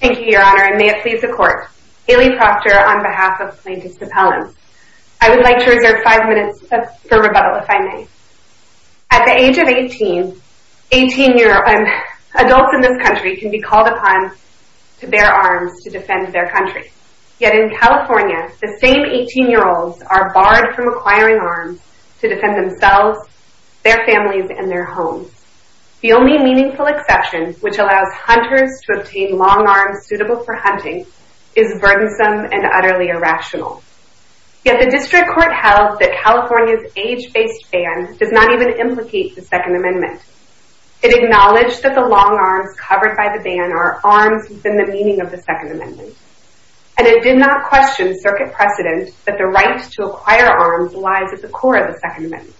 Thank you, Your Honor, and may it please the Court. Ailey Proctor on behalf of Plaintiffs' Appellants. I would like to reserve five minutes for rebuttal, if I may. At the age of 18, adults in this country can be called upon to bear arms to defend their country. Yet in California, the same 18-year-olds are barred from acquiring arms to defend themselves, their families, and their homes. The only meaningful exception, which allows hunters to obtain long arms suitable for hunting, is burdensome and utterly irrational. Yet the District Court held that California's age-based ban does not even implicate the Second Amendment. It acknowledged that the long arms covered by the ban are arms within the meaning of the Second Amendment. And it did not question circuit precedent that the right to acquire arms lies at the core of the Second Amendment.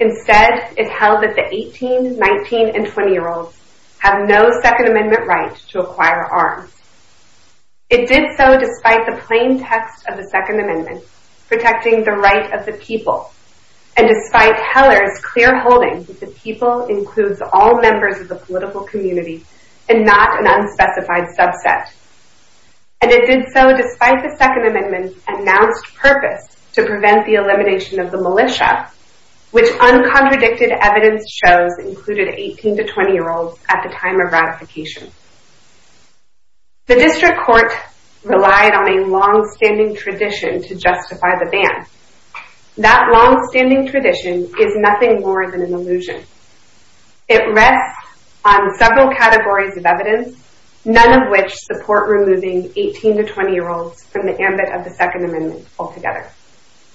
Instead, it held that the 18-, 19-, and 20-year-olds have no Second Amendment right to acquire arms. It did so despite the plain text of the Second Amendment protecting the right of the people, and despite Heller's clear holding that the people includes all members of the political community and not an unspecified subset. And it did so despite the Second Amendment's announced purpose to prevent the elimination of the militia, which uncontradicted evidence shows included 18- to 20-year-olds at the time of ratification. The District Court relied on a long-standing tradition to justify the ban. That long-standing tradition is nothing more than an illusion. It rests on several categories of evidence, none of which support removing 18- to 20-year-olds from the ambit of the Second Amendment altogether.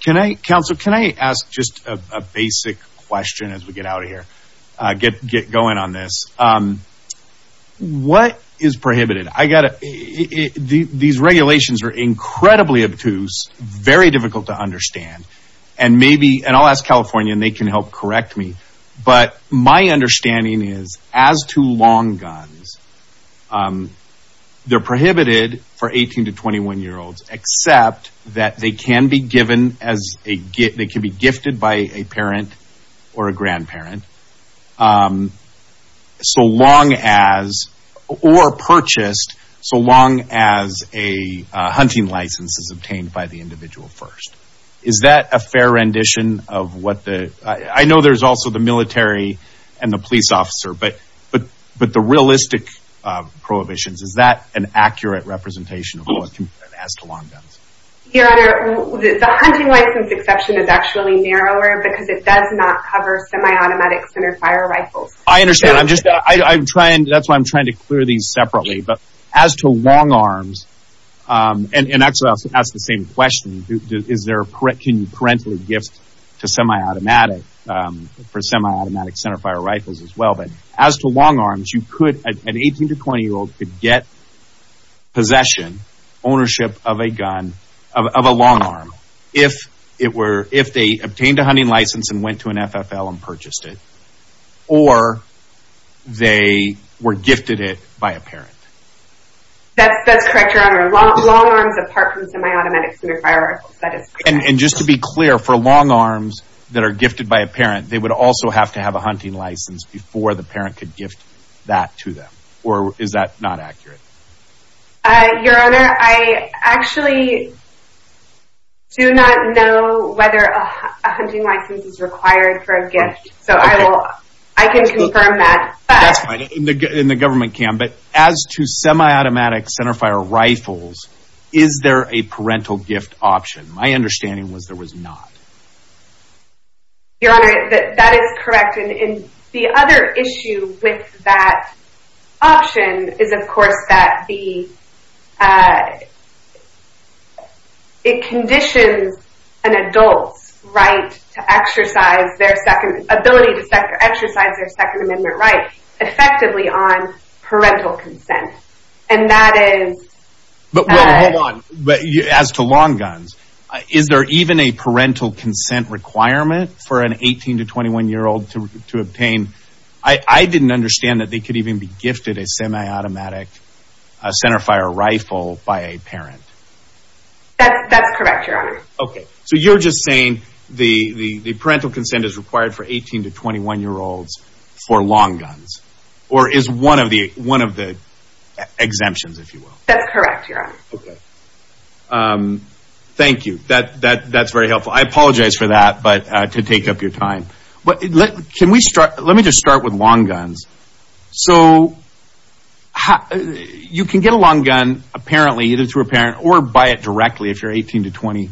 Can I, counsel, can I ask just a basic question as we get out of here? Get going on this. What is prohibited? These regulations are incredibly obtuse, very difficult to understand. And maybe, and I'll ask California and they can help correct me. But my understanding is as to long guns, they're prohibited for 18- to 21-year-olds, except that they can be given as a gift, they can be gifted by a parent or a grandparent so long as, or purchased so long as a hunting license is obtained by the individual first. Is that a fair rendition of what the, I know there's also the military and the police officer, but the realistic prohibitions, is that an accurate representation as to long guns? Your Honor, the hunting license exception is actually narrower because it does not cover semi-automatic center fire rifles. I understand. I'm just, I'm trying, that's why I'm trying to clear these separately. But as to long arms, and actually I'll ask the same question. Is there, can you parentally gift to semi-automatic, for semi-automatic center fire rifles as well? But as to long arms, you could, an 18- to 20-year-old could get possession, ownership of a gun, of a long arm, if it were, if they obtained a hunting license and went to an FFL and purchased it, or they were gifted it by a parent. That's correct, Your Honor. Long arms apart from semi-automatic center fire rifles, that is correct. And just to be clear, for long arms that are gifted by a parent, they would also have to have a hunting license before the parent could gift that to them, or is that not accurate? Your Honor, I actually do not know whether a hunting license is required for a gift. So I will, I can confirm that. That's fine, and the government can, but as to semi-automatic center fire rifles, is there a parental gift option? My understanding was there was not. Your Honor, that is correct. And the other issue with that option is, of course, that the, it conditions an adult's right to exercise their second, ability to exercise their Second Amendment right effectively on parental consent. And that is... But wait, hold on. As to long guns, is there even a parental consent requirement for an 18 to 21 year old to obtain? I didn't understand that they could even be gifted a semi-automatic center fire rifle by a parent. That's correct, Your Honor. Okay, so you're just saying the parental consent is required for 18 to 21 year olds for long guns. Or is one of the exemptions, if you will. That's correct, Your Honor. Okay. Thank you. That's very helpful. I apologize for that, but to take up your time. But can we start, let me just start with long guns. So you can get a long gun apparently, either through a parent or buy it directly if you're 18 to 20,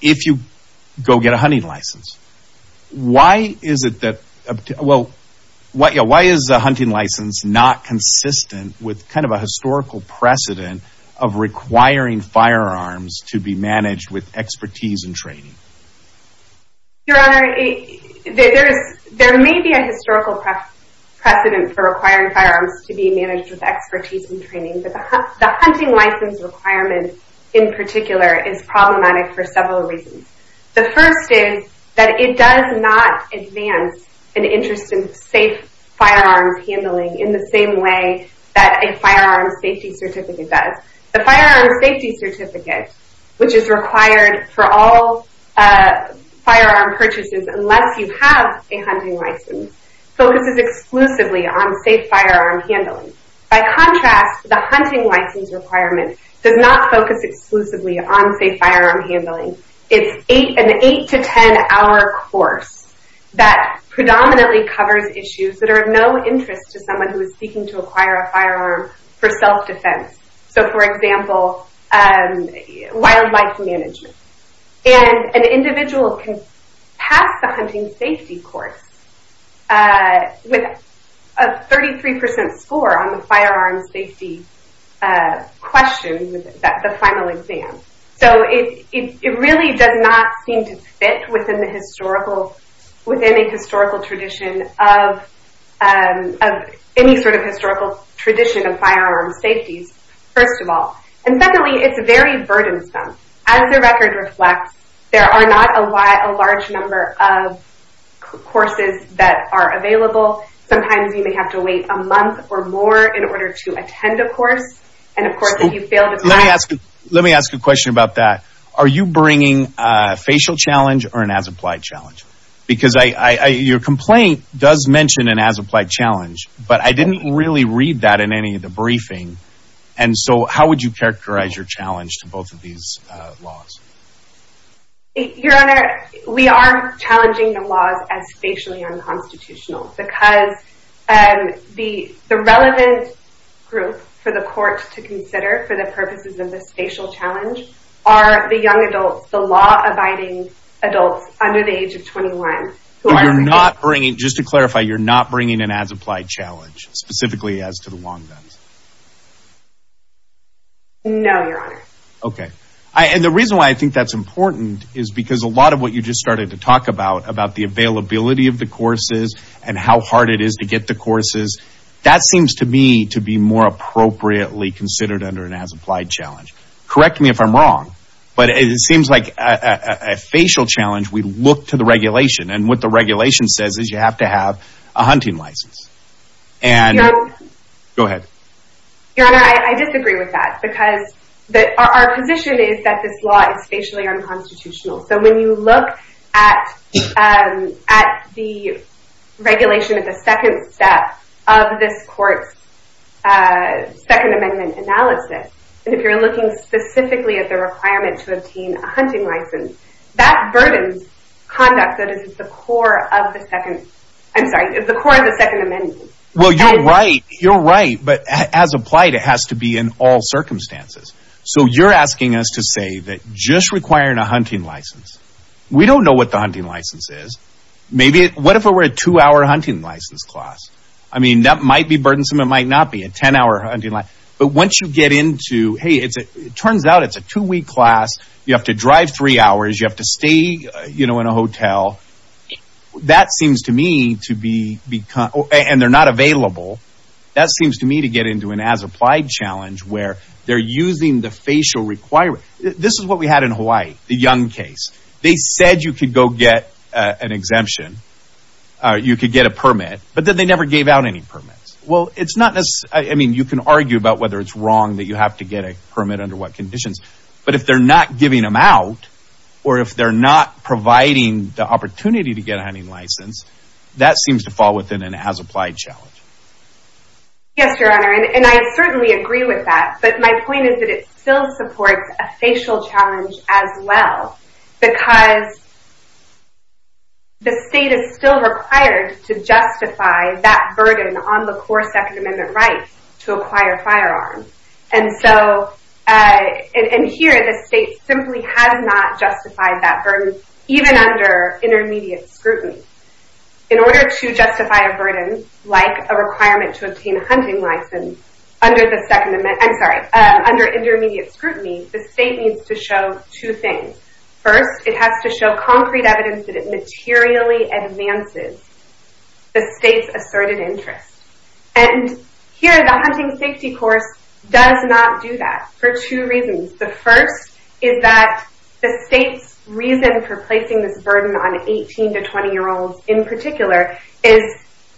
if you go get a hunting license. Why is it that, well, why is a hunting license not consistent with kind of a historical precedent of requiring firearms to be managed with expertise and training? Your Honor, there may be a historical precedent for requiring firearms to be managed with expertise and training, but the hunting license requirement in particular is problematic for several reasons. The first is that it does not advance an interest in safe firearms handling in the same way that a firearm safety certificate does. The firearm safety certificate, which is required for all firearm purchases unless you have a hunting license, focuses exclusively on safe firearm handling. By contrast, the hunting license requirement does not focus exclusively on safe firearm handling. It's an 8 to 10 hour course that predominantly covers issues that are of no interest to someone who is seeking to acquire a firearm for self-defense. So for example, wildlife management. And an individual can pass the hunting safety course with a 33% score on the firearm safety question, the final exam. So it really does not seem to fit within a historical tradition of any sort of historical tradition of firearm safeties, first of all. And secondly, it's very burdensome. As the record reflects, there are not a large number of courses that are available. Sometimes you may have to wait a month or more in order to attend a course. Let me ask you a question about that. Are you bringing a facial challenge or an as-applied challenge? Because your complaint does mention an as-applied challenge, but I didn't really read that in any of the briefing. And so how would you characterize your challenge to both of these laws? Your Honor, we are challenging the laws as facially unconstitutional because the relevant group for the court to consider for the purposes of the facial challenge are the young adults, the law-abiding adults under the age of 21. You're not bringing, just to clarify, you're not bringing an as-applied challenge specifically as to the long guns? No, Your Honor. Okay. And the reason why I think that's important is because a lot of what you just started to talk about, about the availability of the courses and how hard it is to get the courses, that seems to me to be more appropriately considered under an as-applied challenge. Correct me if I'm wrong, but it seems like a facial challenge, we look to the regulation, and what the regulation says is you have to have a hunting license. And... Your Honor... Go ahead. Your Honor, I disagree with that because our position is that this law is facially unconstitutional. So when you look at the regulation of the second step of this court's Second Amendment analysis, and if you're looking specifically at the requirement to obtain a hunting license, that burdens conduct that is at the core of the Second Amendment. Well, you're right. You're right. But as applied, it has to be in all circumstances. So you're asking us to say that just requiring a hunting license, we don't know what the hunting license is. What if it were a two-hour hunting license class? I mean, that might be burdensome. It might not be a 10-hour hunting license. But once you get into, hey, it turns out it's a two-week class. You have to drive three hours. You have to stay in a hotel. That seems to me to be... And they're not available. That seems to me to get into an as-applied challenge where they're using the facial requirement. This is what we had in Hawaii, the Young case. They said you could go get an exemption. You could get a permit. But then they never gave out any permits. Well, it's not as... I mean, you can argue about whether it's wrong that you have to get a permit under what conditions. But if they're not giving them out, or if they're not providing the opportunity to get a hunting license, that seems to fall within an as-applied challenge. Yes, Your Honor, and I certainly agree with that. But my point is that it still supports a facial challenge as well because the state is still required to justify that burden on the core Second Amendment rights to acquire firearms. And here, the state simply has not justified that burden, even under intermediate scrutiny. In order to justify a burden like a requirement to obtain a hunting license under intermediate scrutiny, the state needs to show two things. First, it has to show concrete evidence that it materially advances the state's asserted interest. And here, the hunting safety course does not do that for two reasons. The first is that the state's reason for placing this burden on 18- to 20-year-olds in particular is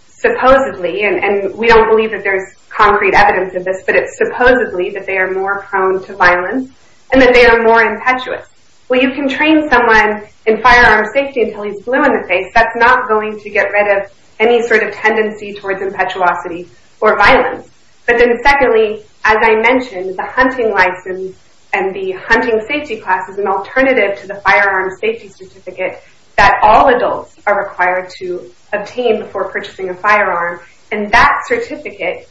supposedly, and we don't believe that there's concrete evidence of this, but it's supposedly that they are more prone to violence and that they are more impetuous. Well, you can train someone in firearm safety until he's blue in the face. That's not going to get rid of any sort of tendency towards impetuosity or violence. But then secondly, as I mentioned, the hunting license and the hunting safety class is an alternative to the firearm safety certificate that all adults are required to obtain before purchasing a firearm. And that certificate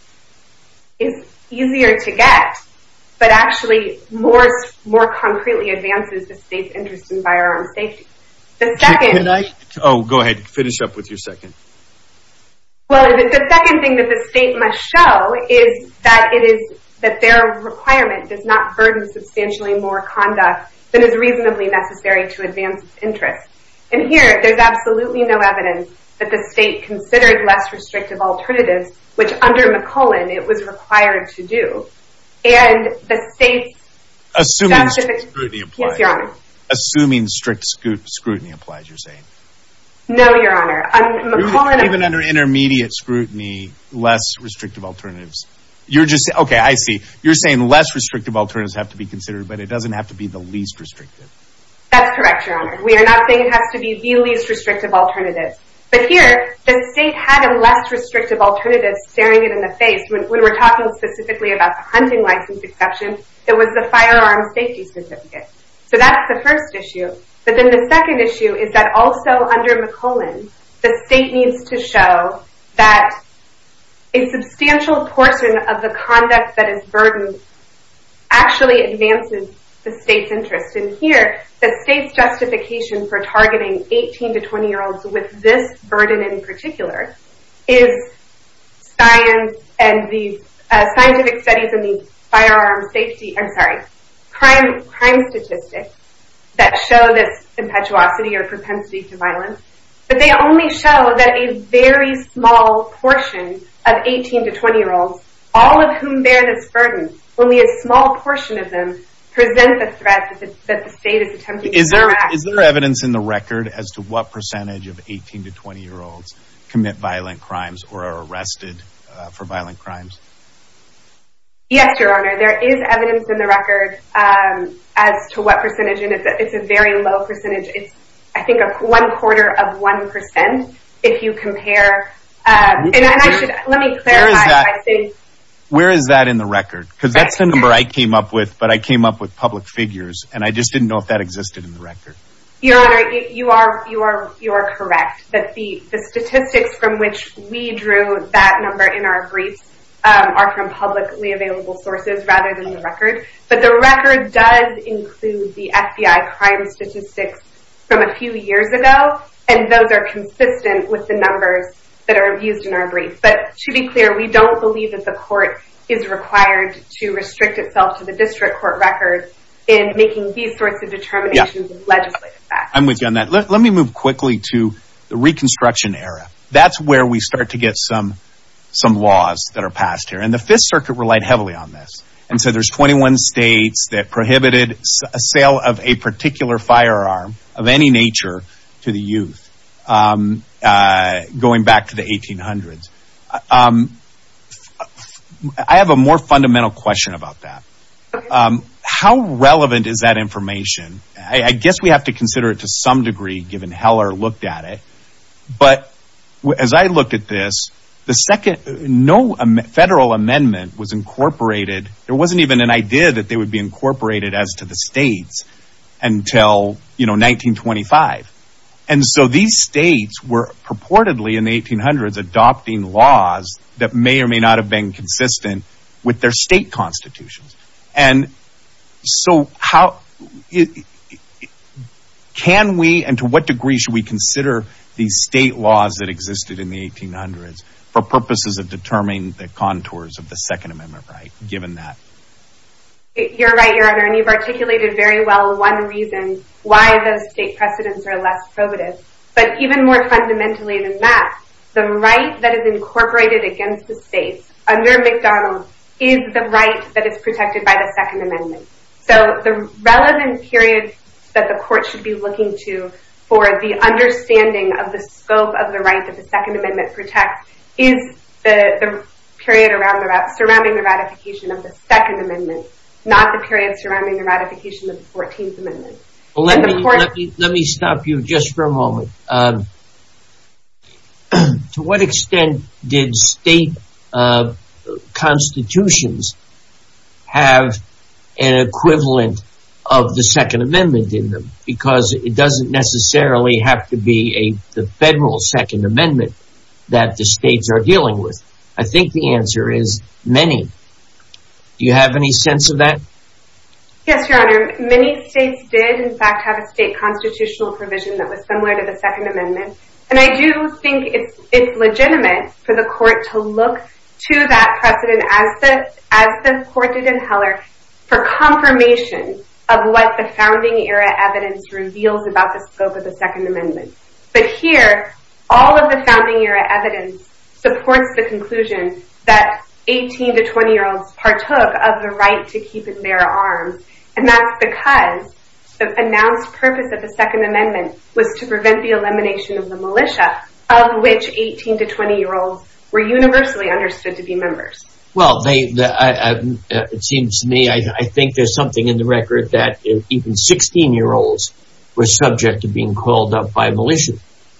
is easier to get, but actually more concretely advances the state's interest in firearm safety. Oh, go ahead. Finish up with your second. Well, the second thing that the state must show is that their requirement does not burden substantially more conduct than is reasonably necessary to advance its interest. And here, there's absolutely no evidence that the state considered less restrictive alternatives, which under McClellan, it was required to do. Assuming strict scrutiny applies, you're saying. No, Your Honor. Even under intermediate scrutiny, less restrictive alternatives. Okay, I see. You're saying less restrictive alternatives have to be considered, but it doesn't have to be the least restrictive. That's correct, Your Honor. We are not saying it has to be the least restrictive alternatives. But here, the state had a less restrictive alternative staring it in the face. When we're talking specifically about the hunting license exception, it was the firearm safety certificate. So that's the first issue. But then the second issue is that also under McClellan, the state needs to show that a substantial portion of the conduct that is burdened actually advances the state's interest. And here, the state's justification for targeting 18 to 20-year-olds with this burden in particular is scientific studies in the firearm safety, I'm sorry, crime statistics that show this impetuosity or propensity to violence. But they only show that a very small portion of 18 to 20-year-olds, all of whom bear this burden, only a small portion of them present the threat that the state is attempting to direct. Is there evidence in the record as to what percentage of 18 to 20-year-olds commit violent crimes or are arrested for violent crimes? Yes, Your Honor. There is evidence in the record as to what percentage, and it's a very low percentage. It's, I think, one quarter of one percent if you compare. Let me clarify. Where is that in the record? Because that's the number I came up with, but I came up with public figures, and I just didn't know if that existed in the record. Your Honor, you are correct that the statistics from which we drew that number in our briefs are from publicly available sources rather than the record. But the record does include the FBI crime statistics from a few years ago, and those are consistent with the numbers that are used in our briefs. But to be clear, we don't believe that the court is required to restrict itself to the district court record in making these sorts of determinations in legislative facts. I'm with you on that. Let me move quickly to the Reconstruction era. That's where we start to get some laws that are passed here, and the Fifth Circuit relied heavily on this. And so there's 21 states that prohibited a sale of a particular firearm of any nature to the youth going back to the 1800s. I have a more fundamental question about that. How relevant is that information? I guess we have to consider it to some degree given Heller looked at it. But as I look at this, no federal amendment was incorporated. There wasn't even an idea that they would be incorporated as to the states until 1925. And so these states were purportedly in the 1800s adopting laws that may or may not have been consistent with their state constitutions. And so how can we and to what degree should we consider these state laws that existed in the 1800s for purposes of determining the contours of the Second Amendment right, given that? You're right, Your Honor, and you've articulated very well one reason why those state precedents are less probative. But even more fundamentally than that, the right that is incorporated against the states under McDonald is the right that is protected by the Second Amendment. So the relevant period that the court should be looking to for the understanding of the scope of the right that the Second Amendment protects is the period surrounding the ratification of the Second Amendment, not the period surrounding the ratification of the Fourteenth Amendment. Let me stop you just for a moment. To what extent did state constitutions have an equivalent of the Second Amendment in them? Because it doesn't necessarily have to be the federal Second Amendment that the states are dealing with. I think the answer is many. Do you have any sense of that? Yes, Your Honor. Many states did, in fact, have a state constitutional provision that was similar to the Second Amendment. And I do think it's legitimate for the court to look to that precedent as the court did in Heller for confirmation of what the founding era evidence reveals about the scope of the Second Amendment. But here, all of the founding era evidence supports the conclusion that 18 to 20-year-olds partook of the right to keep and bear arms. And that's because the announced purpose of the Second Amendment was to prevent the elimination of the militia, of which 18 to 20-year-olds were universally understood to be members. Well, it seems to me, I think there's something in the record that even 16-year-olds were subject to being called up by militia.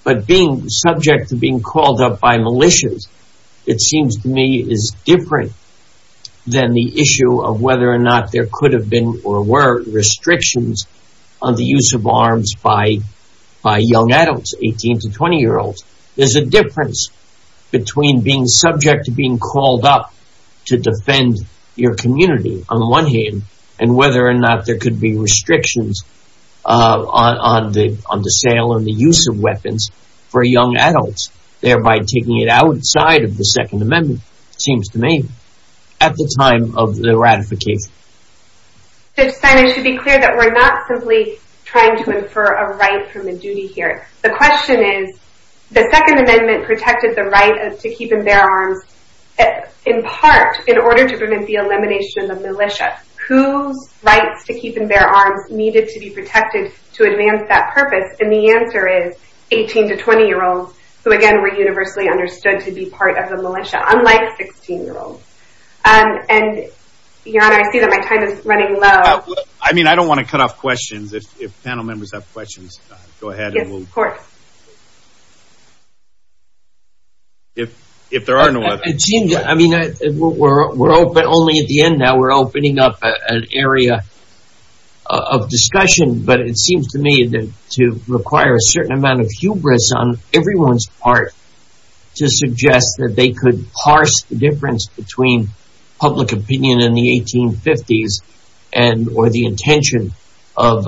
But being subject to being called up by militia, it seems to me, is different than the issue of whether or not there could have been or were restrictions on the use of arms by young adults, 18 to 20-year-olds. There's a difference between being subject to being called up to defend your community, on the one hand, and whether or not there could be restrictions on the sale and the use of weapons for young adults, thereby taking it outside of the Second Amendment, it seems to me, at the time of the ratification. Judge Stein, it should be clear that we're not simply trying to infer a right from a duty here. The question is, the Second Amendment protected the right to keep and bear arms, in part, in order to prevent the elimination of the militia. Whose rights to keep and bear arms needed to be protected to advance that purpose? And the answer is 18 to 20-year-olds, who, again, were universally understood to be part of the militia, unlike 16-year-olds. And, Your Honor, I see that my time is running low. I mean, I don't want to cut off questions. If panel members have questions, go ahead. Yes, of course. If there are no others. We're only at the end now. We're opening up an area of discussion. But it seems to me to require a certain amount of hubris on everyone's part to suggest that they could parse the difference between public opinion in the 1850s or the intention of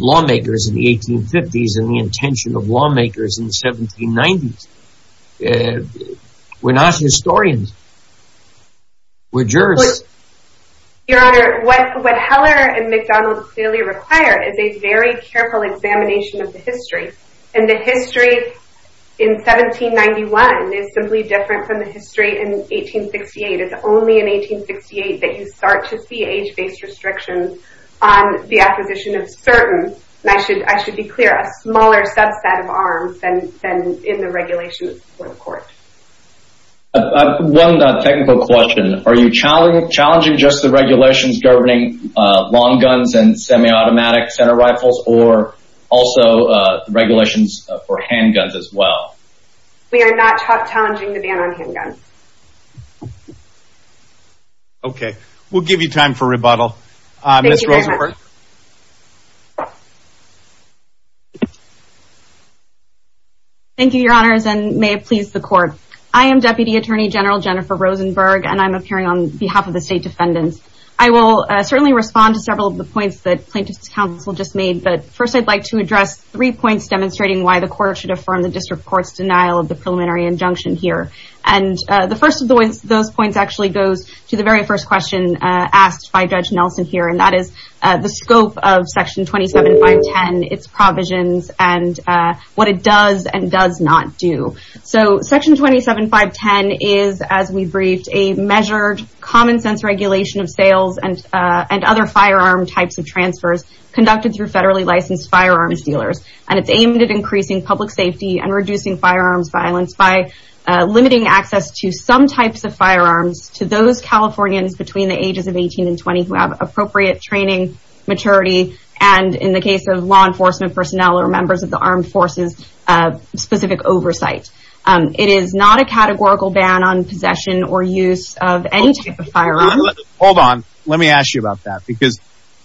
lawmakers in the 1850s and the intention of lawmakers in the 1790s. We're not historians. We're jurists. Your Honor, what Heller and McDonald clearly require is a very careful examination of the history. And the history in 1791 is simply different from the history in 1868. It's only in 1868 that you start to see age-based restrictions on the acquisition of certain, and I should be clear, a smaller subset of arms than in the regulations before the court. One technical question. Are you challenging just the regulations governing long guns and semi-automatic center rifles or also regulations for handguns as well? We are not challenging the ban on handguns. Okay. We'll give you time for rebuttal. Ms. Rosenberg. Thank you, Your Honors, and may it please the Court. I am Deputy Attorney General Jennifer Rosenberg, and I'm appearing on behalf of the State Defendants. I will certainly respond to several of the points that Plaintiffs' Counsel just made, but first I'd like to address three points demonstrating why the Court should affirm the District Court's denial of the preliminary injunction here. And the first of those points actually goes to the very first question asked by Judge Nelson here, and that is the scope of Section 27510, its provisions, and what it does and does not do. So Section 27510 is, as we briefed, a measured, common-sense regulation of sales and other firearm types of transfers conducted through federally licensed firearms dealers, and it's aimed at increasing public safety and reducing firearms violence by limiting access to some types of firearms to those Californians between the ages of 18 and 20 who have appropriate training, maturity, and, in the case of law enforcement personnel or members of the armed forces, specific oversight. It is not a categorical ban on possession or use of any type of firearm. Hold on. Let me ask you about that, because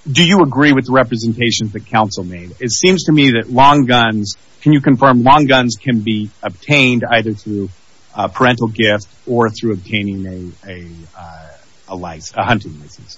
do you agree with the representations that Counsel made? It seems to me that long guns – can you confirm long guns can be obtained either through parental gift or through obtaining a hunting license?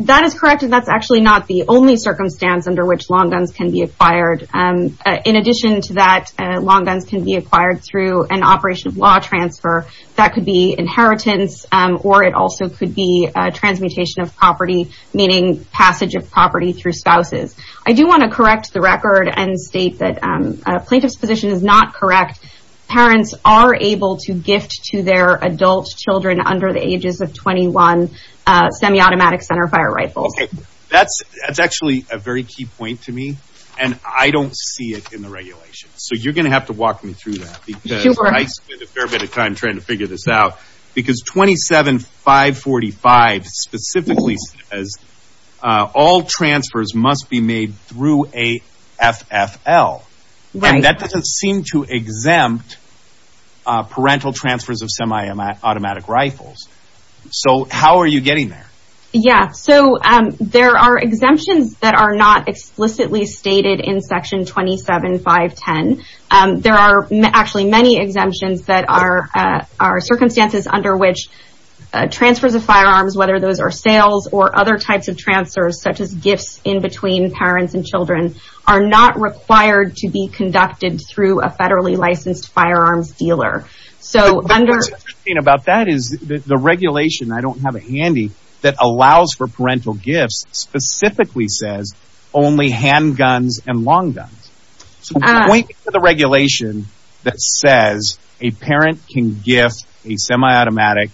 That is correct, and that's actually not the only circumstance under which long guns can be acquired. In addition to that, long guns can be acquired through an operation of law transfer. That could be inheritance, or it also could be transmutation of property, meaning passage of property through spouses. I do want to correct the record and state that a plaintiff's position is not correct. Parents are able to gift to their adult children under the ages of 21 semi-automatic centerfire rifles. That's actually a very key point to me, and I don't see it in the regulations. So you're going to have to walk me through that, because I spent a fair bit of time trying to figure this out. 27-545 specifically says all transfers must be made through a FFL, and that doesn't seem to exempt parental transfers of semi-automatic rifles. So how are you getting there? There are exemptions that are not explicitly stated in Section 27-510. There are actually many exemptions that are circumstances under which transfers of firearms, whether those are sales or other types of transfers, such as gifts in between parents and children, are not required to be conducted through a federally licensed firearms dealer. What's interesting about that is the regulation, I don't have it handy, that allows for parental gifts specifically says only handguns and long guns. So point me to the regulation that says a parent can gift a semi-automatic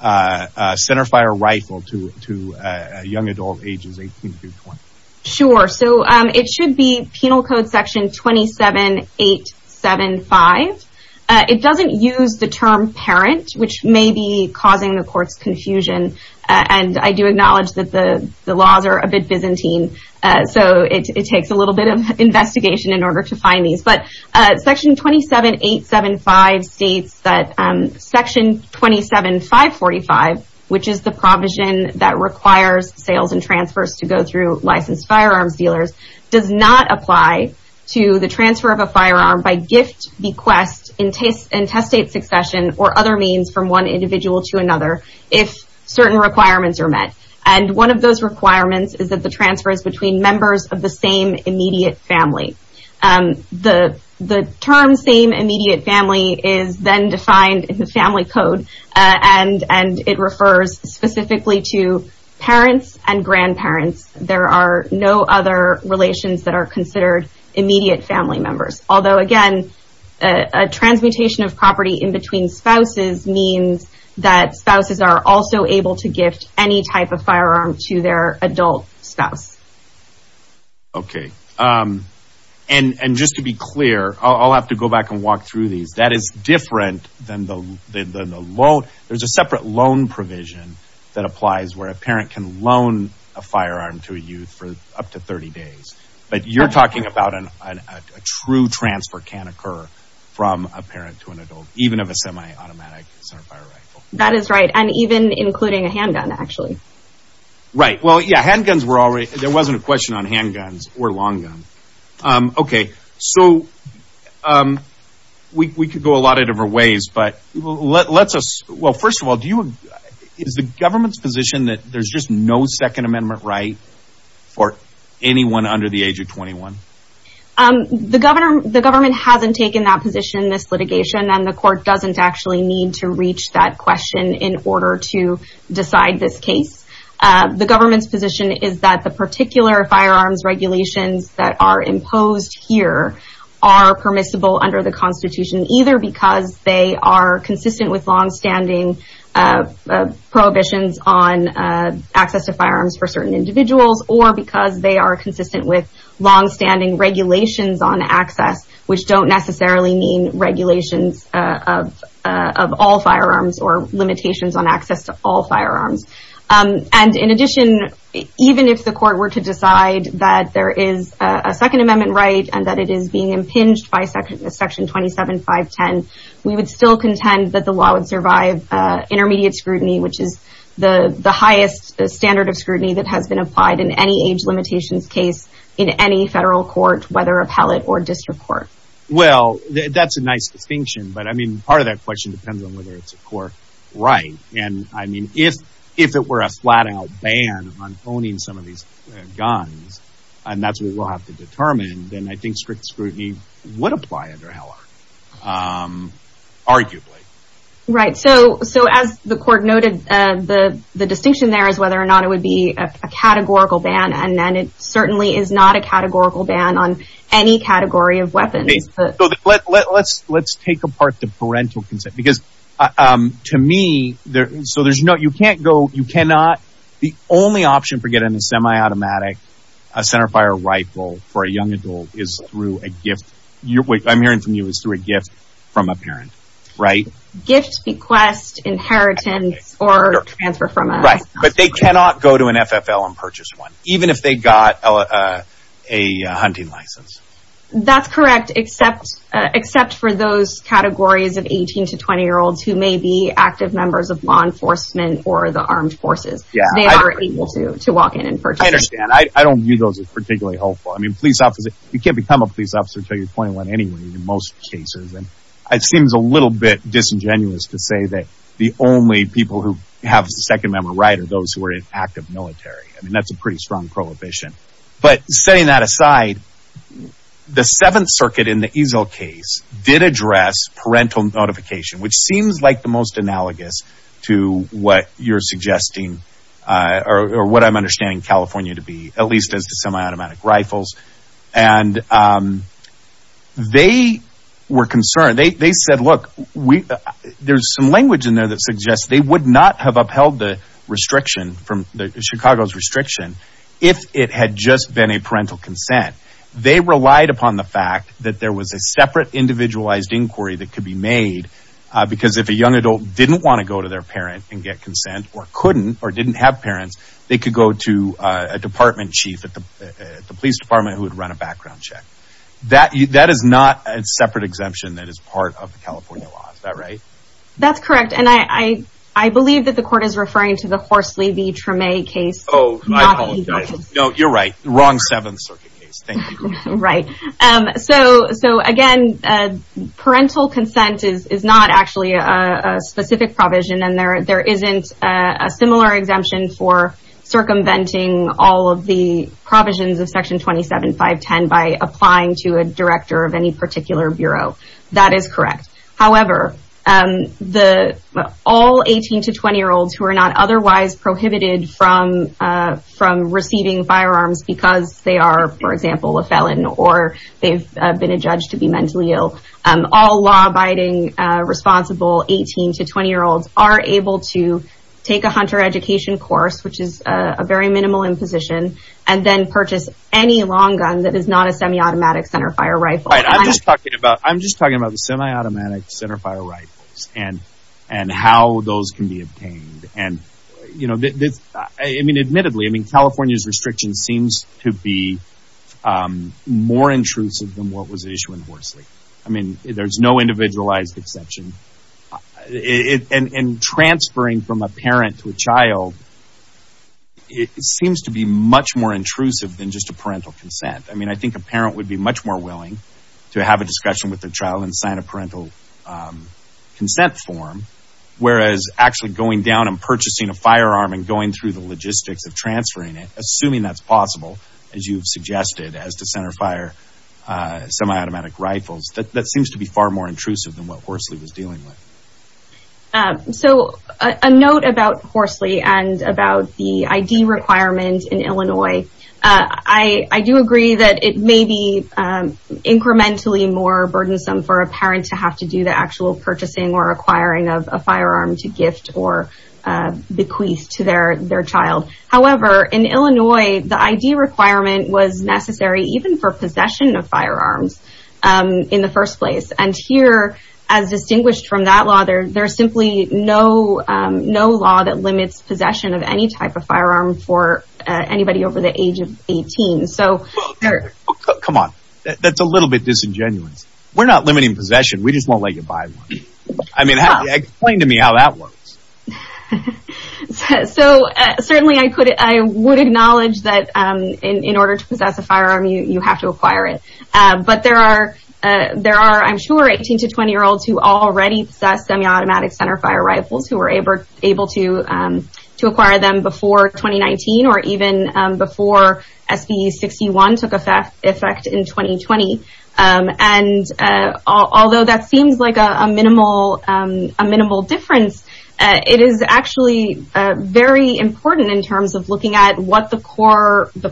centerfire rifle to a young adult ages 18 through 20. Sure, so it should be Penal Code Section 27-875. It doesn't use the term parent, which may be causing the court's confusion, and I do acknowledge that the laws are a bit Byzantine, so it takes a little bit of investigation in order to find these. But Section 27-875 states that Section 27-545, which is the provision that requires sales and transfers to go through licensed firearms dealers, does not apply to the transfer of a firearm by gift, bequest, intestate succession, or other means from one individual to another if certain requirements are met. And one of those requirements is that the transfer is between members of the same immediate family. The term same immediate family is then defined in the Family Code, and it refers specifically to parents and grandparents. There are no other relations that are considered immediate family members. Although, again, a transmutation of property in between spouses means that spouses are also able to gift any type of firearm to their adult spouse. Okay, and just to be clear, I'll have to go back and walk through these. That is different than the loan. There's a separate loan provision that applies where a parent can loan a firearm to a youth for up to 30 days. But you're talking about a true transfer can occur from a parent to an adult, even of a semi-automatic centerfire rifle. That is right, and even including a handgun, actually. Right, well, yeah, handguns were already – there wasn't a question on handguns or long guns. Okay, so we could go a lot of different ways, but let's – well, first of all, do you – is the government's position that there's just no Second Amendment right for anyone under the age of 21? The government hasn't taken that position in this litigation, and the court doesn't actually need to reach that question in order to decide this case. The government's position is that the particular firearms regulations that are imposed here are permissible under the Constitution, either because they are consistent with longstanding prohibitions on access to firearms for certain individuals, or because they are consistent with longstanding regulations on access, which don't necessarily mean regulations of all firearms or limitations on access to all firearms. And in addition, even if the court were to decide that there is a Second Amendment right and that it is being impinged by Section 27.5.10, we would still contend that the law would survive intermediate scrutiny, which is the highest standard of scrutiny that has been applied in any age limitations case in any federal court, whether appellate or district court. Well, that's a nice distinction, but I mean, part of that question depends on whether it's a court right. And I mean, if it were a flat-out ban on owning some of these guns, and that's what we'll have to determine, then I think strict scrutiny would apply under Heller, arguably. Right, so as the court noted, the distinction there is whether or not it would be a categorical ban, and it certainly is not a categorical ban on any category of weapons. Let's take apart the parental consent, because to me, so there's no, you can't go, you cannot, the only option for getting a semi-automatic centerfire rifle for a young adult is through a gift. What I'm hearing from you is through a gift from a parent, right? Gift, bequest, inheritance, or transfer from a sponsor. Right, but they cannot go to an FFL and purchase one, even if they got a hunting license. That's correct, except for those categories of 18 to 20-year-olds who may be active members of law enforcement or the armed forces. They are able to walk in and purchase. I understand. I don't view those as particularly hopeful. I mean, police officers, you can't become a police officer until you're 21 anyway in most cases, and it seems a little bit disingenuous to say that the only people who have the second-member right are those who are in active military. I mean, that's a pretty strong prohibition. But setting that aside, the Seventh Circuit in the Easel case did address parental notification, which seems like the most analogous to what you're suggesting or what I'm understanding California to be, at least as to semi-automatic rifles. And they were concerned. They said, look, there's some language in there that suggests they would not have upheld the restriction, Chicago's restriction, if it had just been a parental consent. They relied upon the fact that there was a separate individualized inquiry that could be made, because if a young adult didn't want to go to their parent and get consent or couldn't or didn't have parents, they could go to a department chief at the police department who would run a background check. That is not a separate exemption that is part of the California law. Is that right? That's correct. And I believe that the court is referring to the Horsley v. Treme case. Oh, I apologize. No, you're right. Wrong Seventh Circuit case. Thank you. Right. So, again, parental consent is not actually a specific provision, and there isn't a similar exemption for circumventing all of the provisions of Section 27.5.10 by applying to a director of any particular bureau. That is correct. However, all 18- to 20-year-olds who are not otherwise prohibited from receiving firearms because they are, for example, a felon or they've been adjudged to be mentally ill, all law-abiding, responsible 18- to 20-year-olds are able to take a hunter education course, which is a very minimal imposition, and then purchase any long gun that is not a semiautomatic centerfire rifle. I'm just talking about the semiautomatic centerfire rifles and how those can be obtained. I mean, admittedly, California's restriction seems to be more intrusive than what was issued in Horsley. I mean, there's no individualized exception. And transferring from a parent to a child, it seems to be much more intrusive than just a parental consent. I mean, I think a parent would be much more willing to have a discussion with their child and sign a parental consent form, whereas actually going down and purchasing a firearm and going through the logistics of transferring it, assuming that's possible, as you've suggested, as to centerfire semiautomatic rifles, that seems to be far more intrusive than what Horsley was dealing with. So a note about Horsley and about the ID requirement in Illinois. I do agree that it may be incrementally more burdensome for a parent to have to do the actual purchasing or acquiring of a firearm to gift or bequeath to their child. However, in Illinois, the ID requirement was necessary even for possession of firearms in the first place. And here, as distinguished from that law, there's simply no law that limits possession of any type of firearm for anybody over the age of 18. Come on. That's a little bit disingenuous. We're not limiting possession. We just won't let you buy one. I mean, explain to me how that works. So certainly I would acknowledge that in order to possess a firearm, you have to acquire it. But there are, I'm sure, 18 to 20-year-olds who already possess semiautomatic centerfire rifles, who were able to acquire them before 2019 or even before SB61 took effect in 2020. And although that seems like a minimal difference, it is actually very important in terms of looking at what the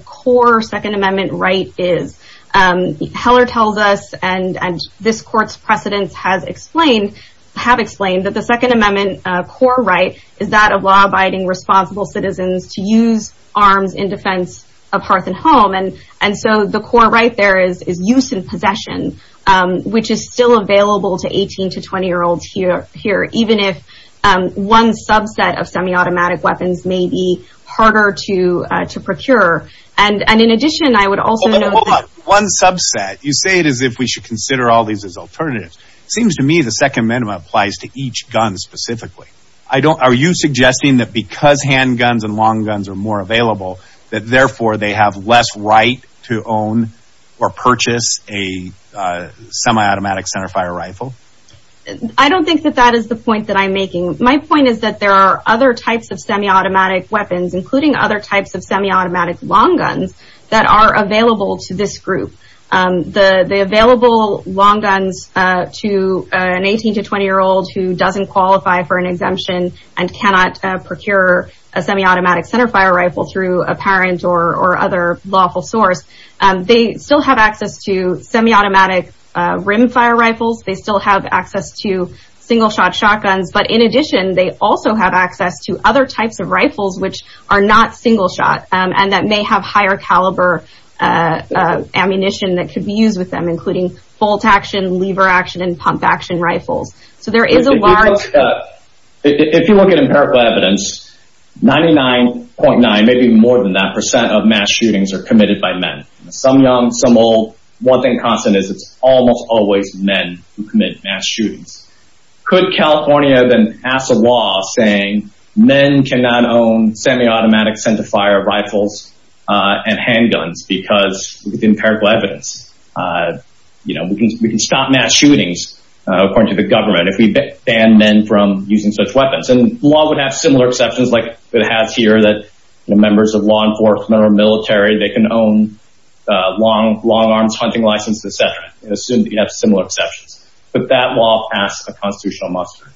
core Second Amendment right is. Heller tells us, and this court's precedents have explained, that the Second Amendment core right is that of law-abiding, responsible citizens to use arms in defense of hearth and home. And so the core right there is use and possession, which is still available to 18 to 20-year-olds here, even if one subset of semiautomatic weapons may be harder to procure. And in addition, I would also note that… Hold on. One subset. You say it as if we should consider all these as alternatives. It seems to me the Second Amendment applies to each gun specifically. Are you suggesting that because handguns and long guns are more available, that therefore they have less right to own or purchase a semiautomatic centerfire rifle? I don't think that that is the point that I'm making. My point is that there are other types of semiautomatic weapons, including other types of semiautomatic long guns, that are available to this group. The available long guns to an 18 to 20-year-old who doesn't qualify for an exemption and cannot procure a semiautomatic centerfire rifle through a parent or other lawful source, they still have access to semiautomatic rimfire rifles. They still have access to single-shot shotguns. But in addition, they also have access to other types of rifles which are not single-shot and that may have higher caliber ammunition that could be used with them, including bolt-action, lever-action, and pump-action rifles. If you look at empirical evidence, 99.9, maybe more than that, percent of mass shootings are committed by men. Some young, some old. One thing constant is it's almost always men who commit mass shootings. Could California then pass a law saying men cannot own semiautomatic centerfire rifles and handguns because of the empirical evidence? You know, we can stop mass shootings, according to the government, if we ban men from using such weapons. And the law would have similar exceptions like it has here that members of law enforcement or military, they can own a long-arms hunting license, et cetera. Assume that you have similar exceptions. But that law passed a constitutional muster.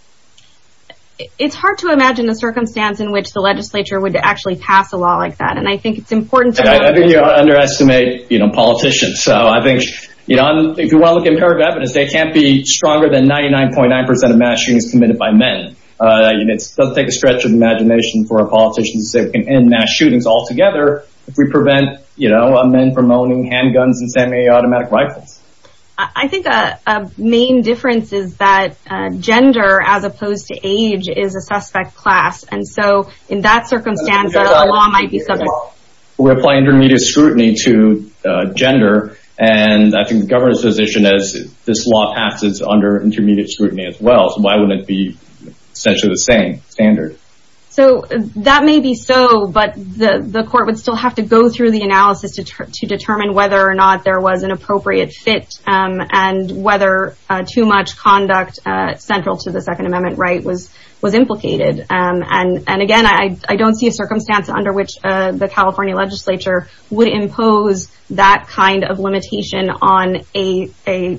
It's hard to imagine a circumstance in which the legislature would actually pass a law like that. And I think it's important to know... I think you underestimate politicians. So I think if you want to look at empirical evidence, they can't be stronger than 99.9% of mass shootings committed by men. It doesn't take a stretch of the imagination for a politician to say we can end mass shootings altogether if we prevent men from owning handguns and semiautomatic rifles. I think a main difference is that gender, as opposed to age, is a suspect class. And so in that circumstance, a law might be subject. We apply intermediate scrutiny to gender. And I think the governor's position is this law passes under intermediate scrutiny as well. So why wouldn't it be essentially the same standard? So that may be so, but the court would still have to go through the analysis to determine whether or not there was an appropriate fit and whether too much conduct central to the Second Amendment right was implicated. And again, I don't see a circumstance under which the California legislature would impose that kind of limitation on a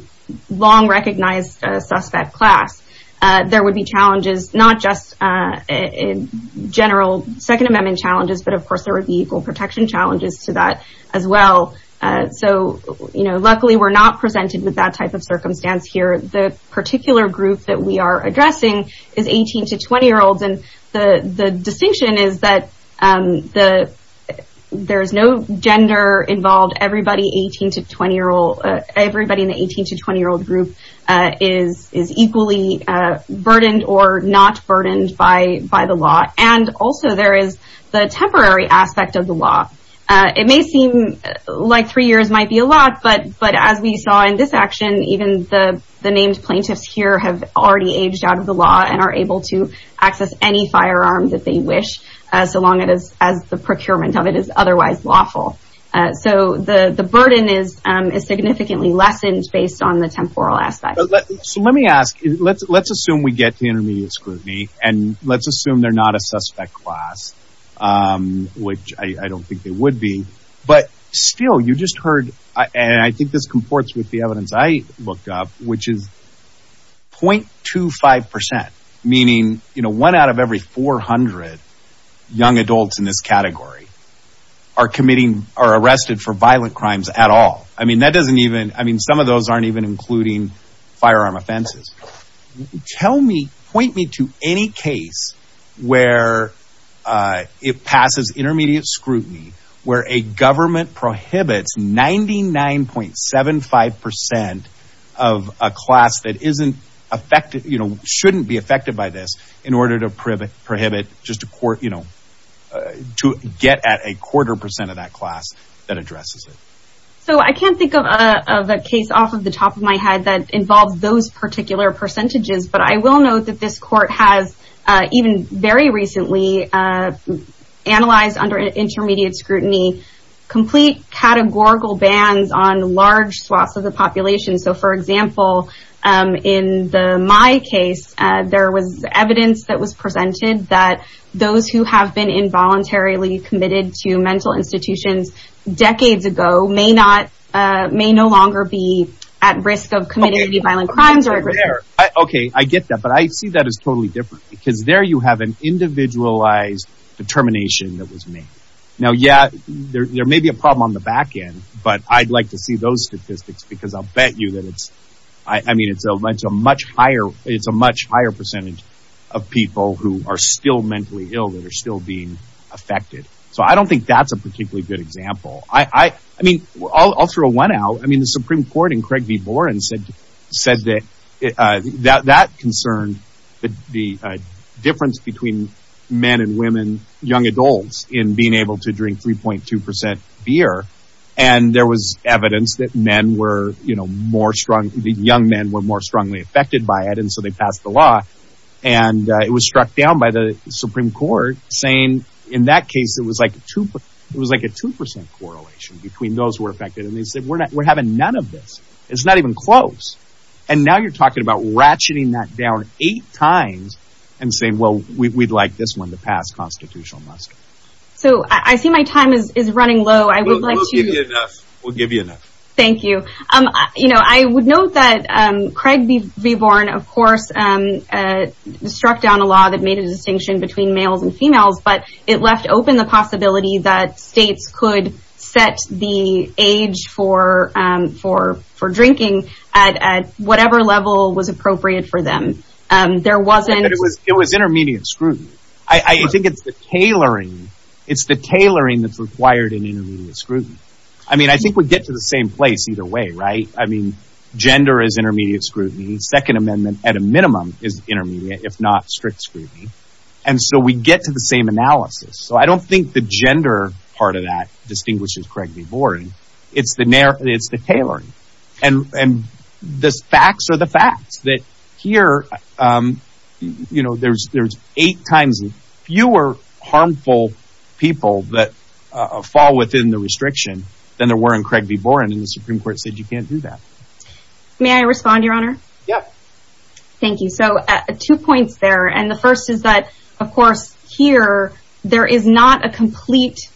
long-recognized suspect class. There would be challenges, not just general Second Amendment challenges, but of course there would be equal protection challenges to that as well. So luckily we're not presented with that type of circumstance here. The particular group that we are addressing is 18 to 20-year-olds. And the distinction is that there is no gender involved. Everybody in the 18 to 20-year-old group is equally burdened or not burdened by the law. And also there is the temporary aspect of the law. It may seem like three years might be a lot, but as we saw in this action, even the named plaintiffs here have already aged out of the law and are able to access any firearm that they wish, so long as the procurement of it is otherwise lawful. So the burden is significantly lessened based on the temporal aspect. So let me ask, let's assume we get the intermediate scrutiny and let's assume they're not a suspect class, which I don't think they would be. But still, you just heard, and I think this comports with the evidence I looked up, which is 0.25%, meaning one out of every 400 young adults in this category are committing or arrested for violent crimes at all. I mean, that doesn't even, I mean, some of those aren't even including firearm offenses. Tell me, point me to any case where it passes intermediate scrutiny, where a government prohibits 99.75% of a class that shouldn't be affected by this in order to get at a quarter percent of that class that addresses it. So I can't think of a case off the top of my head that involves those particular percentages, but I will note that this court has even very recently analyzed under intermediate scrutiny complete categorical bans on large swaths of the population. So, for example, in my case, there was evidence that was presented that those who have been involuntarily committed to mental institutions decades ago may no longer be at risk of committing any violent crimes. Okay, I get that, but I see that as totally different, because there you have an individualized determination that was made. Now, yeah, there may be a problem on the back end, but I'd like to see those statistics because I'll bet you that it's, I mean, it's a much higher percentage of people who are still mentally ill that are still being affected. So I don't think that's a particularly good example. I mean, I'll throw one out. I mean, the Supreme Court in Craig v. Boren said that that concerned the difference between men and women, young adults, in being able to drink 3.2% beer, and there was evidence that men were, you know, more strong, that young men were more strongly affected by it, and so they passed the law. And it was struck down by the Supreme Court, saying in that case it was like a 2% correlation between those who were affected, and they said we're having none of this. It's not even close. And now you're talking about ratcheting that down eight times and saying, well, we'd like this one to pass constitutional muster. So I see my time is running low. We'll give you enough. Thank you. You know, I would note that Craig v. Boren, of course, struck down a law that made a distinction between males and females, but it left open the possibility that states could set the age for drinking at whatever level was appropriate for them. It was intermediate scrutiny. I think it's the tailoring that's required in intermediate scrutiny. I mean, I think we get to the same place either way, right? I mean, gender is intermediate scrutiny. Second Amendment, at a minimum, is intermediate, if not strict scrutiny. And so we get to the same analysis. So I don't think the gender part of that distinguishes Craig v. Boren. It's the tailoring. And the facts are the facts, that here, you know, there's eight times fewer harmful people that fall within the restriction than there were in Craig v. Boren, and the Supreme Court said you can't do that. May I respond, Your Honor? Yep. Thank you. So two points there, and the first is that, of course, here, there is not a complete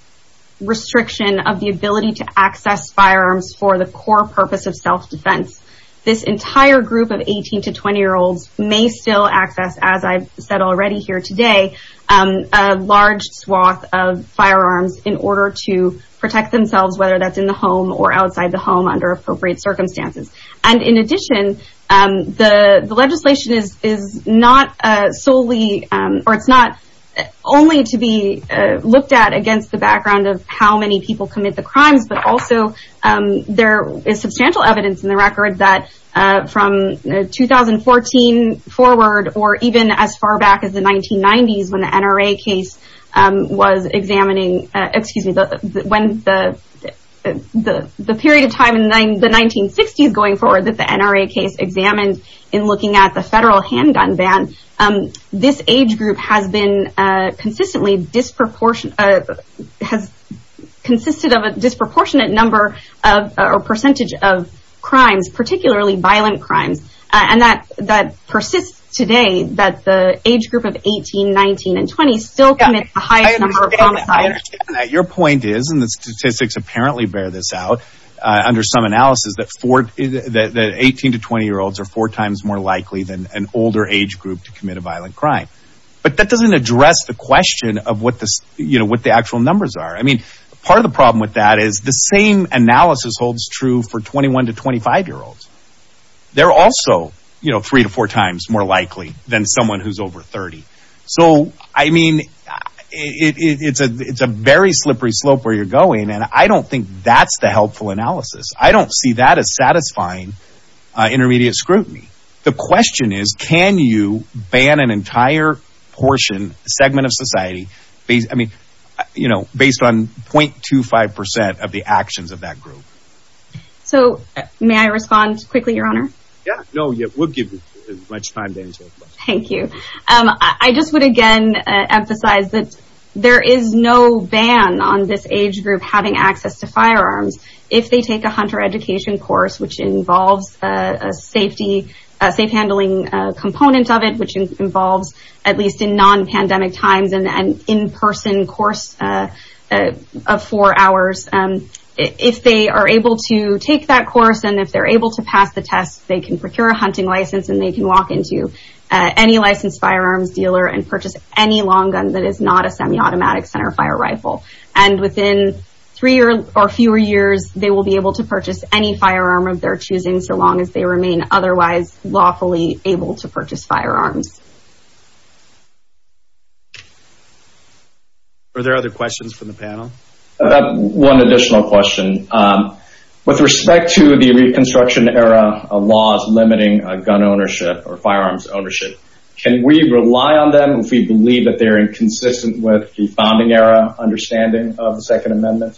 restriction of the ability to access firearms for the core purpose of self-defense. This entire group of 18- to 20-year-olds may still access, as I've said already here today, a large swath of firearms in order to protect themselves, whether that's in the home or outside the home under appropriate circumstances. And in addition, the legislation is not solely, or it's not only to be looked at against the background of how many people commit the crimes, but also there is substantial evidence in the record that from 2014 forward or even as far back as the 1990s when the NRA case was examining, excuse me, when the period of time in the 1960s going forward that the NRA case examined in looking at the federal handgun ban, this age group has been consistently disproportionate, has consisted of a disproportionate number or percentage of crimes, particularly violent crimes. And that persists today that the age group of 18, 19, and 20 still commits the highest number of homicides. Your point is, and the statistics apparently bear this out under some analysis, that 18- to 20-year-olds are four times more likely than an older age group to commit a violent crime. But that doesn't address the question of what the actual numbers are. I mean, part of the problem with that is the same analysis holds true for 21- to 25-year-olds. They're also three to four times more likely than someone who's over 30. So, I mean, it's a very slippery slope where you're going, and I don't think that's the helpful analysis. I don't see that as satisfying intermediate scrutiny. The question is, can you ban an entire portion, segment of society, I mean, you know, based on 0.25% of the actions of that group? So may I respond quickly, Your Honor? Yeah, no, we'll give you as much time to answer the question. Thank you. I just would again emphasize that there is no ban on this age group having access to firearms if they take a hunter education course, which involves a safe handling component of it, which involves at least in non-pandemic times an in-person course of four hours. If they are able to take that course and if they're able to pass the test, they can procure a hunting license and they can walk into any licensed firearms dealer and purchase any long gun that is not a semi-automatic centerfire rifle. And within three or fewer years, they will be able to purchase any firearm of their choosing so long as they remain otherwise lawfully able to purchase firearms. Are there other questions from the panel? I've got one additional question. With respect to the Reconstruction Era laws limiting gun ownership or firearms ownership, can we rely on them if we believe that they're inconsistent with the Founding Era understanding of the Second Amendment?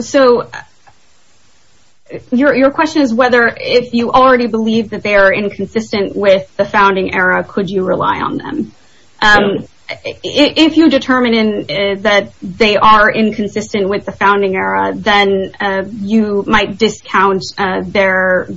So your question is whether if you already believe that they are inconsistent with the Founding Era, could you rely on them? If you determine that they are inconsistent with the Founding Era, then you might discount their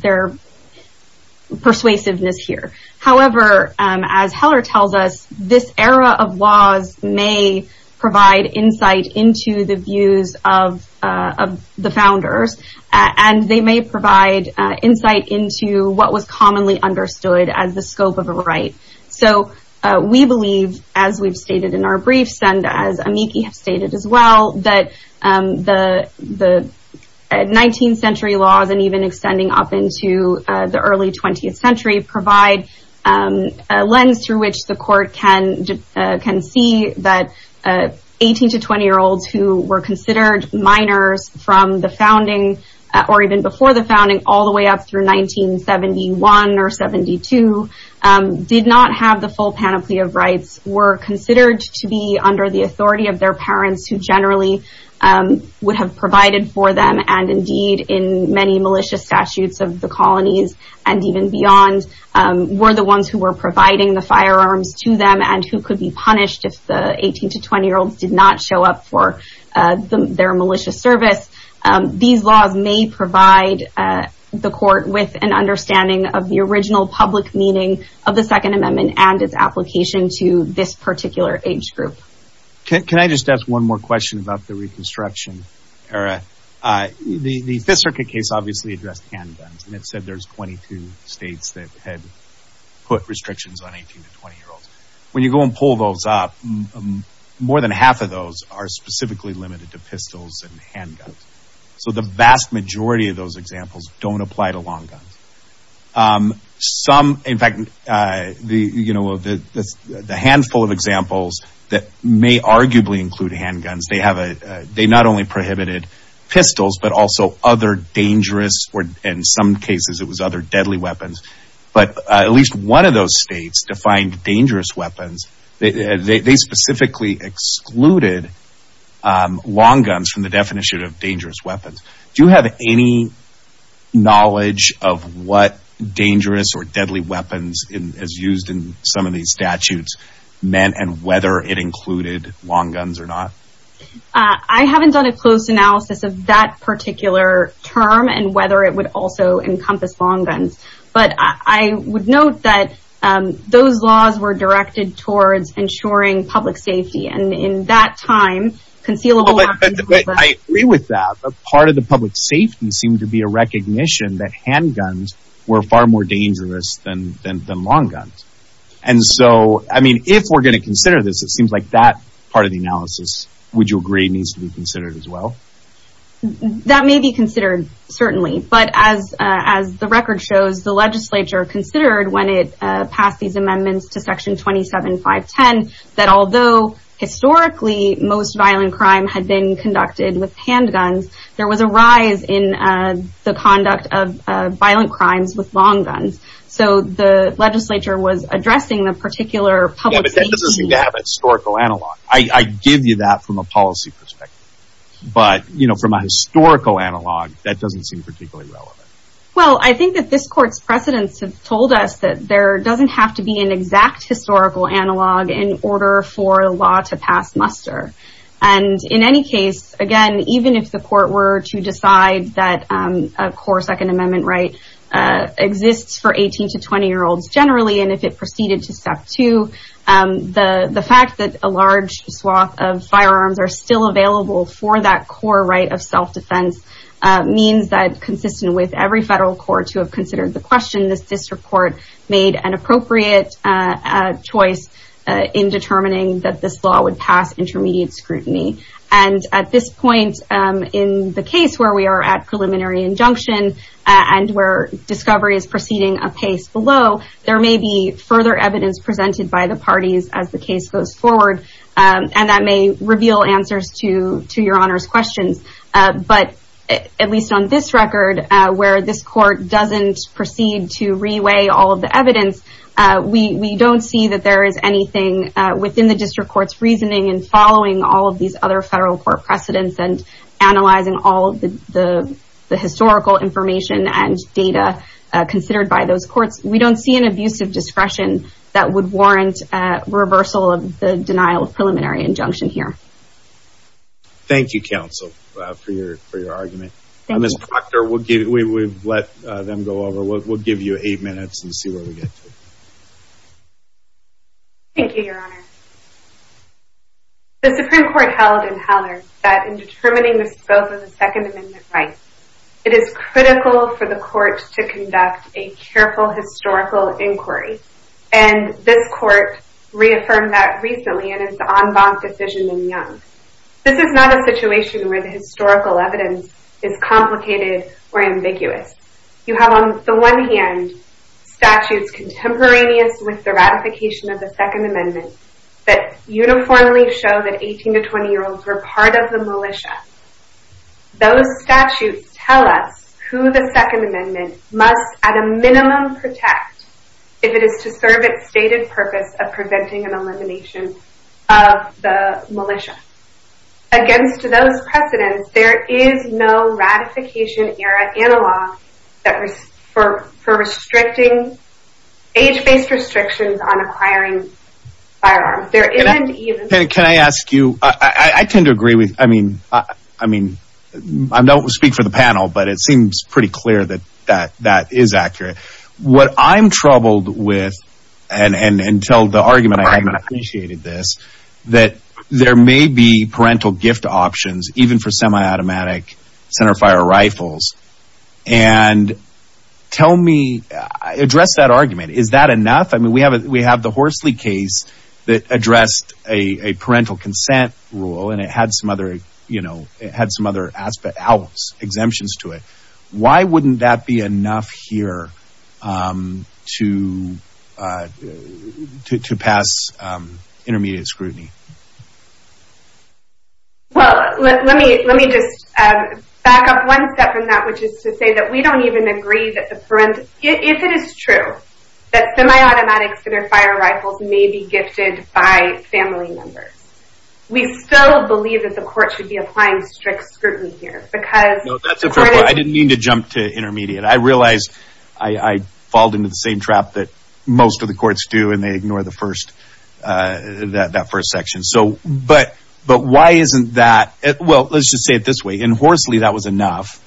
persuasiveness here. However, as Heller tells us, this era of laws may provide insight into the views of the founders and they may provide insight into what was commonly understood as the scope of a right. So we believe, as we've stated in our briefs, and as Amiki has stated as well, that the 19th century laws and even extending up into the early 20th century provide a lens through which the court can see that 18- to 20-year-olds who were considered minors from the founding or even before the founding all the way up through 1971 or 72 did not have the full panoply of rights, were considered to be under the authority of their parents who generally would have provided for them and indeed in many malicious statutes of the colonies and even beyond were the ones who were providing the firearms to them and who could be punished if the 18- to 20-year-olds did not show up for their malicious service. These laws may provide the court with an understanding of the original public meaning of the Second Amendment and its application to this particular age group. Can I just ask one more question about the Reconstruction era? The Fifth Circuit case obviously addressed handguns and it said there's 22 states that had put restrictions on 18- to 20-year-olds. When you go and pull those up, more than half of those are specifically limited to pistols and handguns. So the vast majority of those examples don't apply to long guns. In fact, the handful of examples that may arguably include handguns, they not only prohibited pistols but also other dangerous or in some cases it was other deadly weapons but at least one of those states defined dangerous weapons. They specifically excluded long guns from the definition of dangerous weapons. Do you have any knowledge of what dangerous or deadly weapons as used in some of these statutes meant and whether it included long guns or not? I haven't done a close analysis of that particular term and whether it would also encompass long guns. But I would note that those laws were directed towards ensuring public safety and in that time, concealable weapons... But I agree with that. A part of the public safety seemed to be a recognition that handguns were far more dangerous than long guns. And so, I mean, if we're going to consider this, it seems like that part of the analysis, would you agree, needs to be considered as well? That may be considered, certainly. But as the record shows, the legislature considered when it passed these amendments to section 27.5.10 that although historically most violent crime had been conducted with handguns, there was a rise in the conduct of violent crimes with long guns. So the legislature was addressing the particular public safety... Yeah, but that doesn't seem to have a historical analog. I give you that from a policy perspective. But from a historical analog, that doesn't seem particularly relevant. Well, I think that this court's precedents have told us that there doesn't have to be an exact historical analog in order for a law to pass muster. And in any case, again, even if the court were to decide that a core Second Amendment right exists for 18 to 20-year-olds generally and if it proceeded to step two, the fact that a large swath of firearms are still available for that core right of self-defense means that consistent with every federal court who have considered the question, this district court made an appropriate choice in determining that this law would pass intermediate scrutiny. And at this point, in the case where we are at preliminary injunction and where discovery is proceeding apace below, there may be further evidence presented by the parties as the case goes forward. And that may reveal answers to your Honor's questions. But at least on this record, where this court doesn't proceed to reweigh all of the evidence, we don't see that there is anything within the district court's reasoning in following all of these other federal court precedents and analyzing all of the historical information and data considered by those courts. We don't see an abuse of discretion that would warrant reversal of the denial of preliminary injunction here. Thank you, Counsel, for your argument. Ms. Proctor, we've let them go over. We'll give you eight minutes and see where we get to. Thank you, Your Honor. The Supreme Court held in Hallard that in determining the scope of the Second Amendment rights, it is critical for the court to conduct a careful historical inquiry. And this court reaffirmed that recently in its en banc decision in Young. This is not a situation where the historical evidence is complicated or ambiguous. You have on the one hand statutes contemporaneous with the ratification of the Second Amendment that uniformly show that 18- to 20-year-olds were part of the militia. Those statutes tell us who the Second Amendment must, at a minimum, protect if it is to serve its stated purpose of preventing an elimination of the militia. Against those precedents, there is no ratification-era analog for restricting age-based restrictions on acquiring firearms. Can I ask you, I tend to agree with, I mean, I don't speak for the panel, but it seems pretty clear that that is accurate. What I'm troubled with, and tell the argument, I haven't appreciated this, that there may be parental gift options even for semi-automatic centerfire rifles. And tell me, address that argument. Is that enough? I mean, we have the Horsley case that addressed a parental consent rule and it had some other exemptions to it. Why wouldn't that be enough here to pass intermediate scrutiny? Well, let me just back up one step in that, which is to say that we don't even agree that the parental, if it is true that semi-automatic centerfire rifles may be gifted by family members, we still believe that the court should be applying strict scrutiny here. No, that's a fair point. I didn't mean to jump to intermediate. I realize I fall into the same trap that most of the courts do and they ignore that first section. But why isn't that, well, let's just say it this way, in Horsley that was enough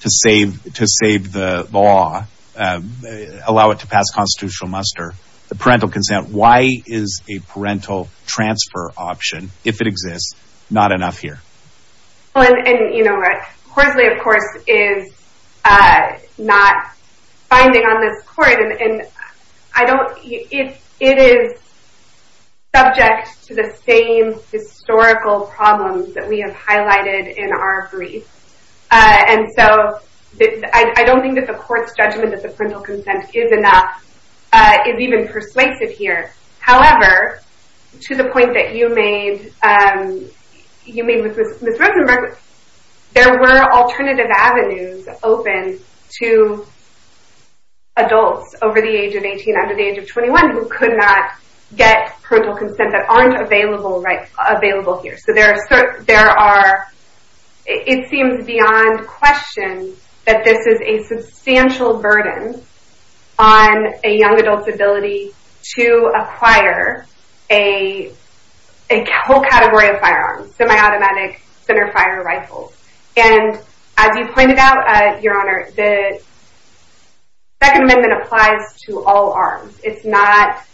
to save the law, allow it to pass constitutional muster. The parental consent, why is a parental transfer option, if it exists, not enough here? Well, and Horsley of course is not binding on this court and it is subject to the same historical problems that we have highlighted in our brief. And so I don't think that the court's judgment that the parental consent is enough is even persuasive here. However, to the point that you made with Ms. Rosenberg, there were alternative avenues open to adults over the age of 18, under the age of 21 who could not get parental consent that aren't available here. So there are, it seems beyond question that this is a substantial burden on a young adult's ability to acquire a whole category of firearms, semi-automatic centerfire rifles. And as you pointed out, Your Honor, the Second Amendment applies to all arms. It's not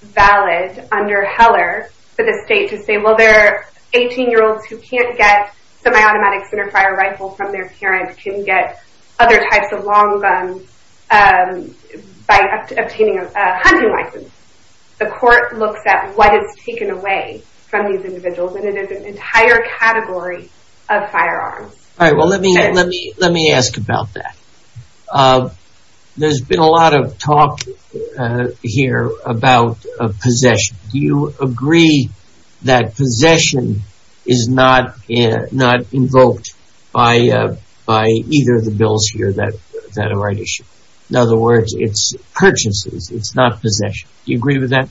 valid under Heller for the state to say, well, there are 18-year-olds who can't get semi-automatic centerfire rifles from their parents, can get other types of long guns by obtaining a hunting license. The court looks at what is taken away from these individuals and it is an entire category of firearms. All right, well, let me ask about that. There's been a lot of talk here about possession. Do you agree that possession is not invoked by either of the bills here that are right issue? In other words, it's purchases, it's not possession. Do you agree with that?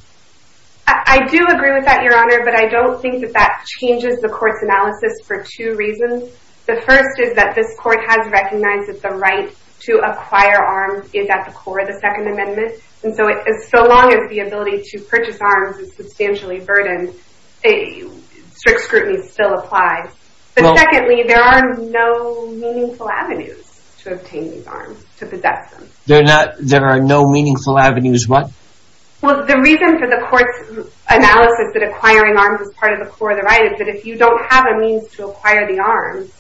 I do agree with that, Your Honor, but I don't think that that changes the court's analysis for two reasons. The first is that this court has recognized that the right to acquire arms is at the core of the Second Amendment. And so as long as the ability to purchase arms is substantially burdened, strict scrutiny still applies. But secondly, there are no meaningful avenues to obtain these arms, to possess them. There are no meaningful avenues what? Well, the reason for the court's analysis that acquiring arms is part of the core of the right is that if you don't have a means to acquire the arms,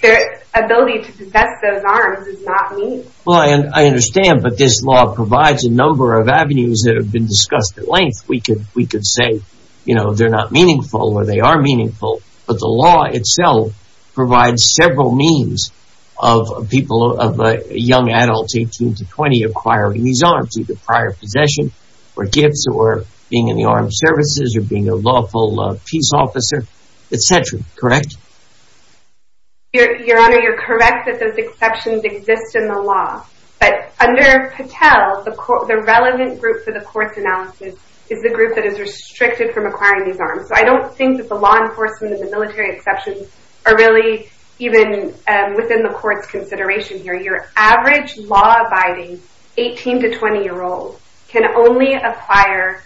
the ability to possess those arms is not meaningful. Well, I understand, but this law provides a number of avenues that have been discussed at length. We could say, you know, they're not meaningful or they are meaningful, but the law itself provides several means of people, of young adults, 18 to 20, acquiring these arms, either prior possession or gifts or being in the armed services or being a lawful peace officer, etc. Correct? Your Honor, you're correct that those exceptions exist in the law. But under Patel, the relevant group for the court's analysis is the group that is restricted from acquiring these arms. So I don't think that the law enforcement and the military exceptions are really even within the court's consideration here. Your average law-abiding 18 to 20-year-old can only acquire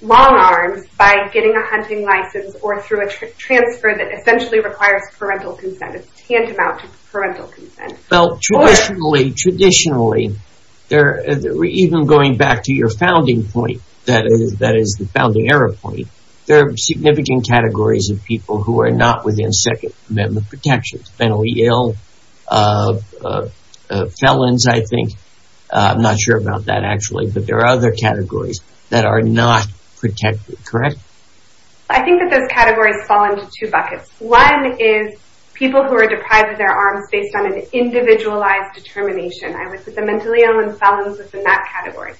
long arms by getting a hunting license or through a transfer that essentially requires parental consent. It's tantamount to parental consent. Well, traditionally, traditionally, even going back to your founding point, that is the founding era point, there are significant categories of people who are not within Second Amendment protections. Fennelly ill, felons, I think. I'm not sure about that actually, but there are other categories that are not protected. Correct? One is people who are deprived of their arms based on an individualized determination. I would put the mentally ill and felons within that category.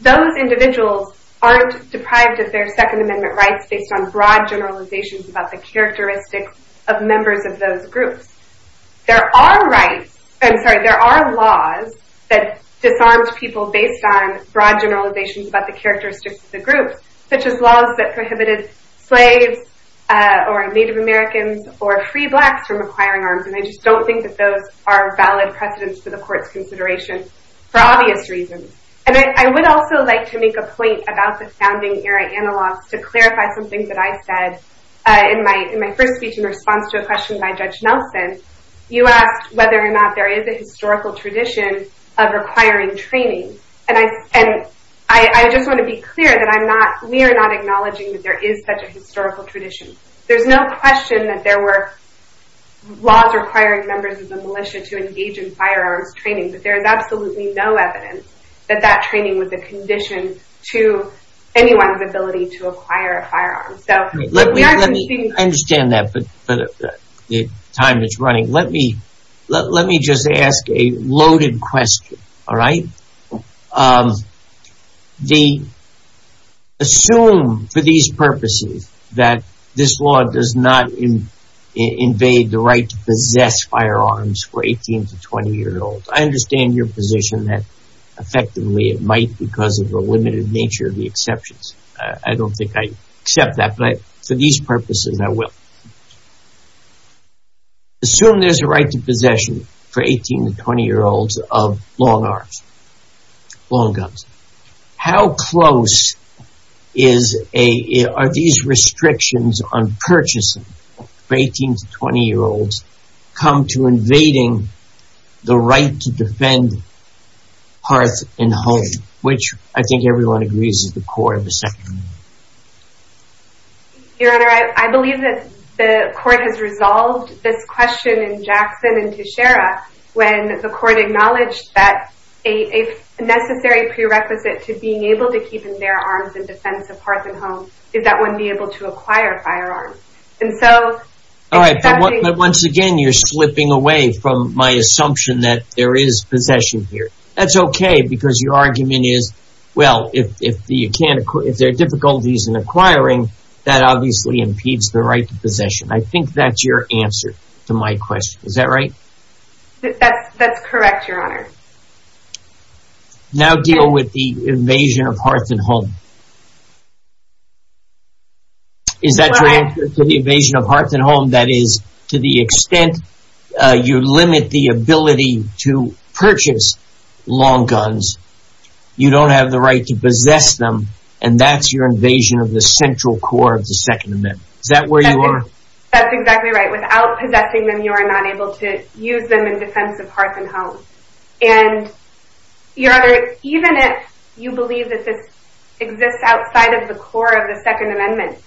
Those individuals aren't deprived of their Second Amendment rights based on broad generalizations about the characteristics of members of those groups. There are rights, I'm sorry, there are laws that disarm people based on broad generalizations about the characteristics of the groups, such as laws that prohibited slaves or Native Americans or free blacks from acquiring arms, and I just don't think that those are valid precedents for the Court's consideration for obvious reasons. And I would also like to make a point about the founding era analogs to clarify some things that I said in my first speech in response to a question by Judge Nelson. You asked whether or not there is a historical tradition of requiring training, and I just want to be clear that we are not acknowledging that there is such a historical tradition. There's no question that there were laws requiring members of the militia to engage in firearms training, but there is absolutely no evidence that that training was a condition to anyone's ability to acquire a firearm. I understand that, but the time is running. Let me just ask a loaded question, all right? Assume, for these purposes, that this law does not invade the right to possess firearms for 18 to 20-year-olds. I understand your position that, effectively, it might because of the limited nature of the exceptions. I don't think I accept that, but for these purposes, I will. Assume there's a right to possession for 18 to 20-year-olds of long arms, long guns. How close are these restrictions on purchasing for 18 to 20-year-olds come to invading the right to defend hearth and home, which I think everyone agrees is the core of the Second Amendment. Your Honor, I believe that the Court has resolved this question in Jackson and Teixeira when the Court acknowledged that a necessary prerequisite to being able to keep in their arms and defense a hearth and home is that one be able to acquire a firearm. All right, but once again, you're slipping away from my assumption that there is possession here. That's okay because your argument is, well, if there are difficulties in acquiring, that obviously impedes the right to possession. I think that's your answer to my question. Is that right? That's correct, Your Honor. Now deal with the invasion of hearth and home. Is that your answer to the invasion of hearth and home? That is, to the extent you limit the ability to purchase long guns, you don't have the right to possess them, and that's your invasion of the central core of the Second Amendment. Is that where you are? That's exactly right. Without possessing them, you are not able to use them in defense of hearth and home. And, Your Honor, even if you believe that this exists outside of the core of the Second Amendment,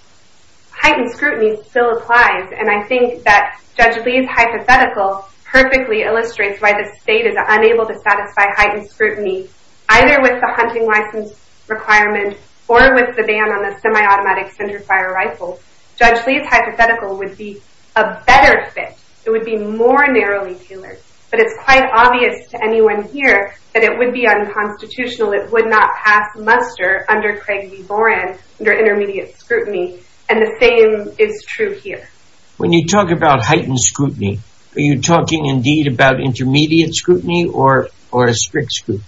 heightened scrutiny still applies, and I think that Judge Lee's hypothetical perfectly illustrates why the state is unable to satisfy heightened scrutiny, either with the hunting license requirement or with the ban on the semi-automatic centerfire rifle. Judge Lee's hypothetical would be a better fit. It would be more narrowly tailored, but it's quite obvious to anyone here that it would be unconstitutional. It would not pass muster under Craig v. Boran, under intermediate scrutiny, and the same is true here. When you talk about heightened scrutiny, are you talking indeed about intermediate scrutiny or strict scrutiny?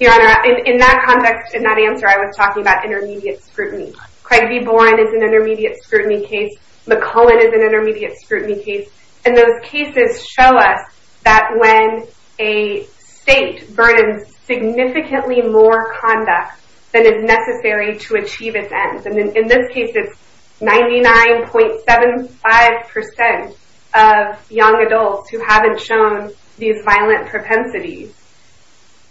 Your Honor, in that context, in that answer, I was talking about intermediate scrutiny. Craig v. Boran is an intermediate scrutiny case. McCohen is an intermediate scrutiny case. And those cases show us that when a state burdens significantly more conduct than is necessary to achieve its ends, and in this case it's 99.75% of young adults who haven't shown these violent propensities,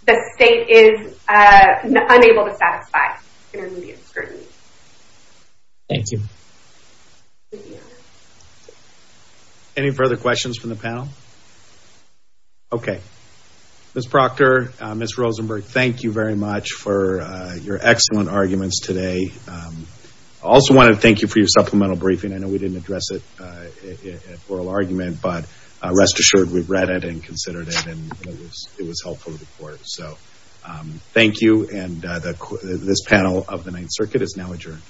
the state is unable to satisfy intermediate scrutiny. Thank you. Any further questions from the panel? Okay. Ms. Proctor, Ms. Rosenberg, thank you very much for your excellent arguments today. I also want to thank you for your supplemental briefing. I know we didn't address it at oral argument, but rest assured we've read it and considered it, and it was helpful to the Court. So thank you, and this panel of the Ninth Circuit is now adjourned.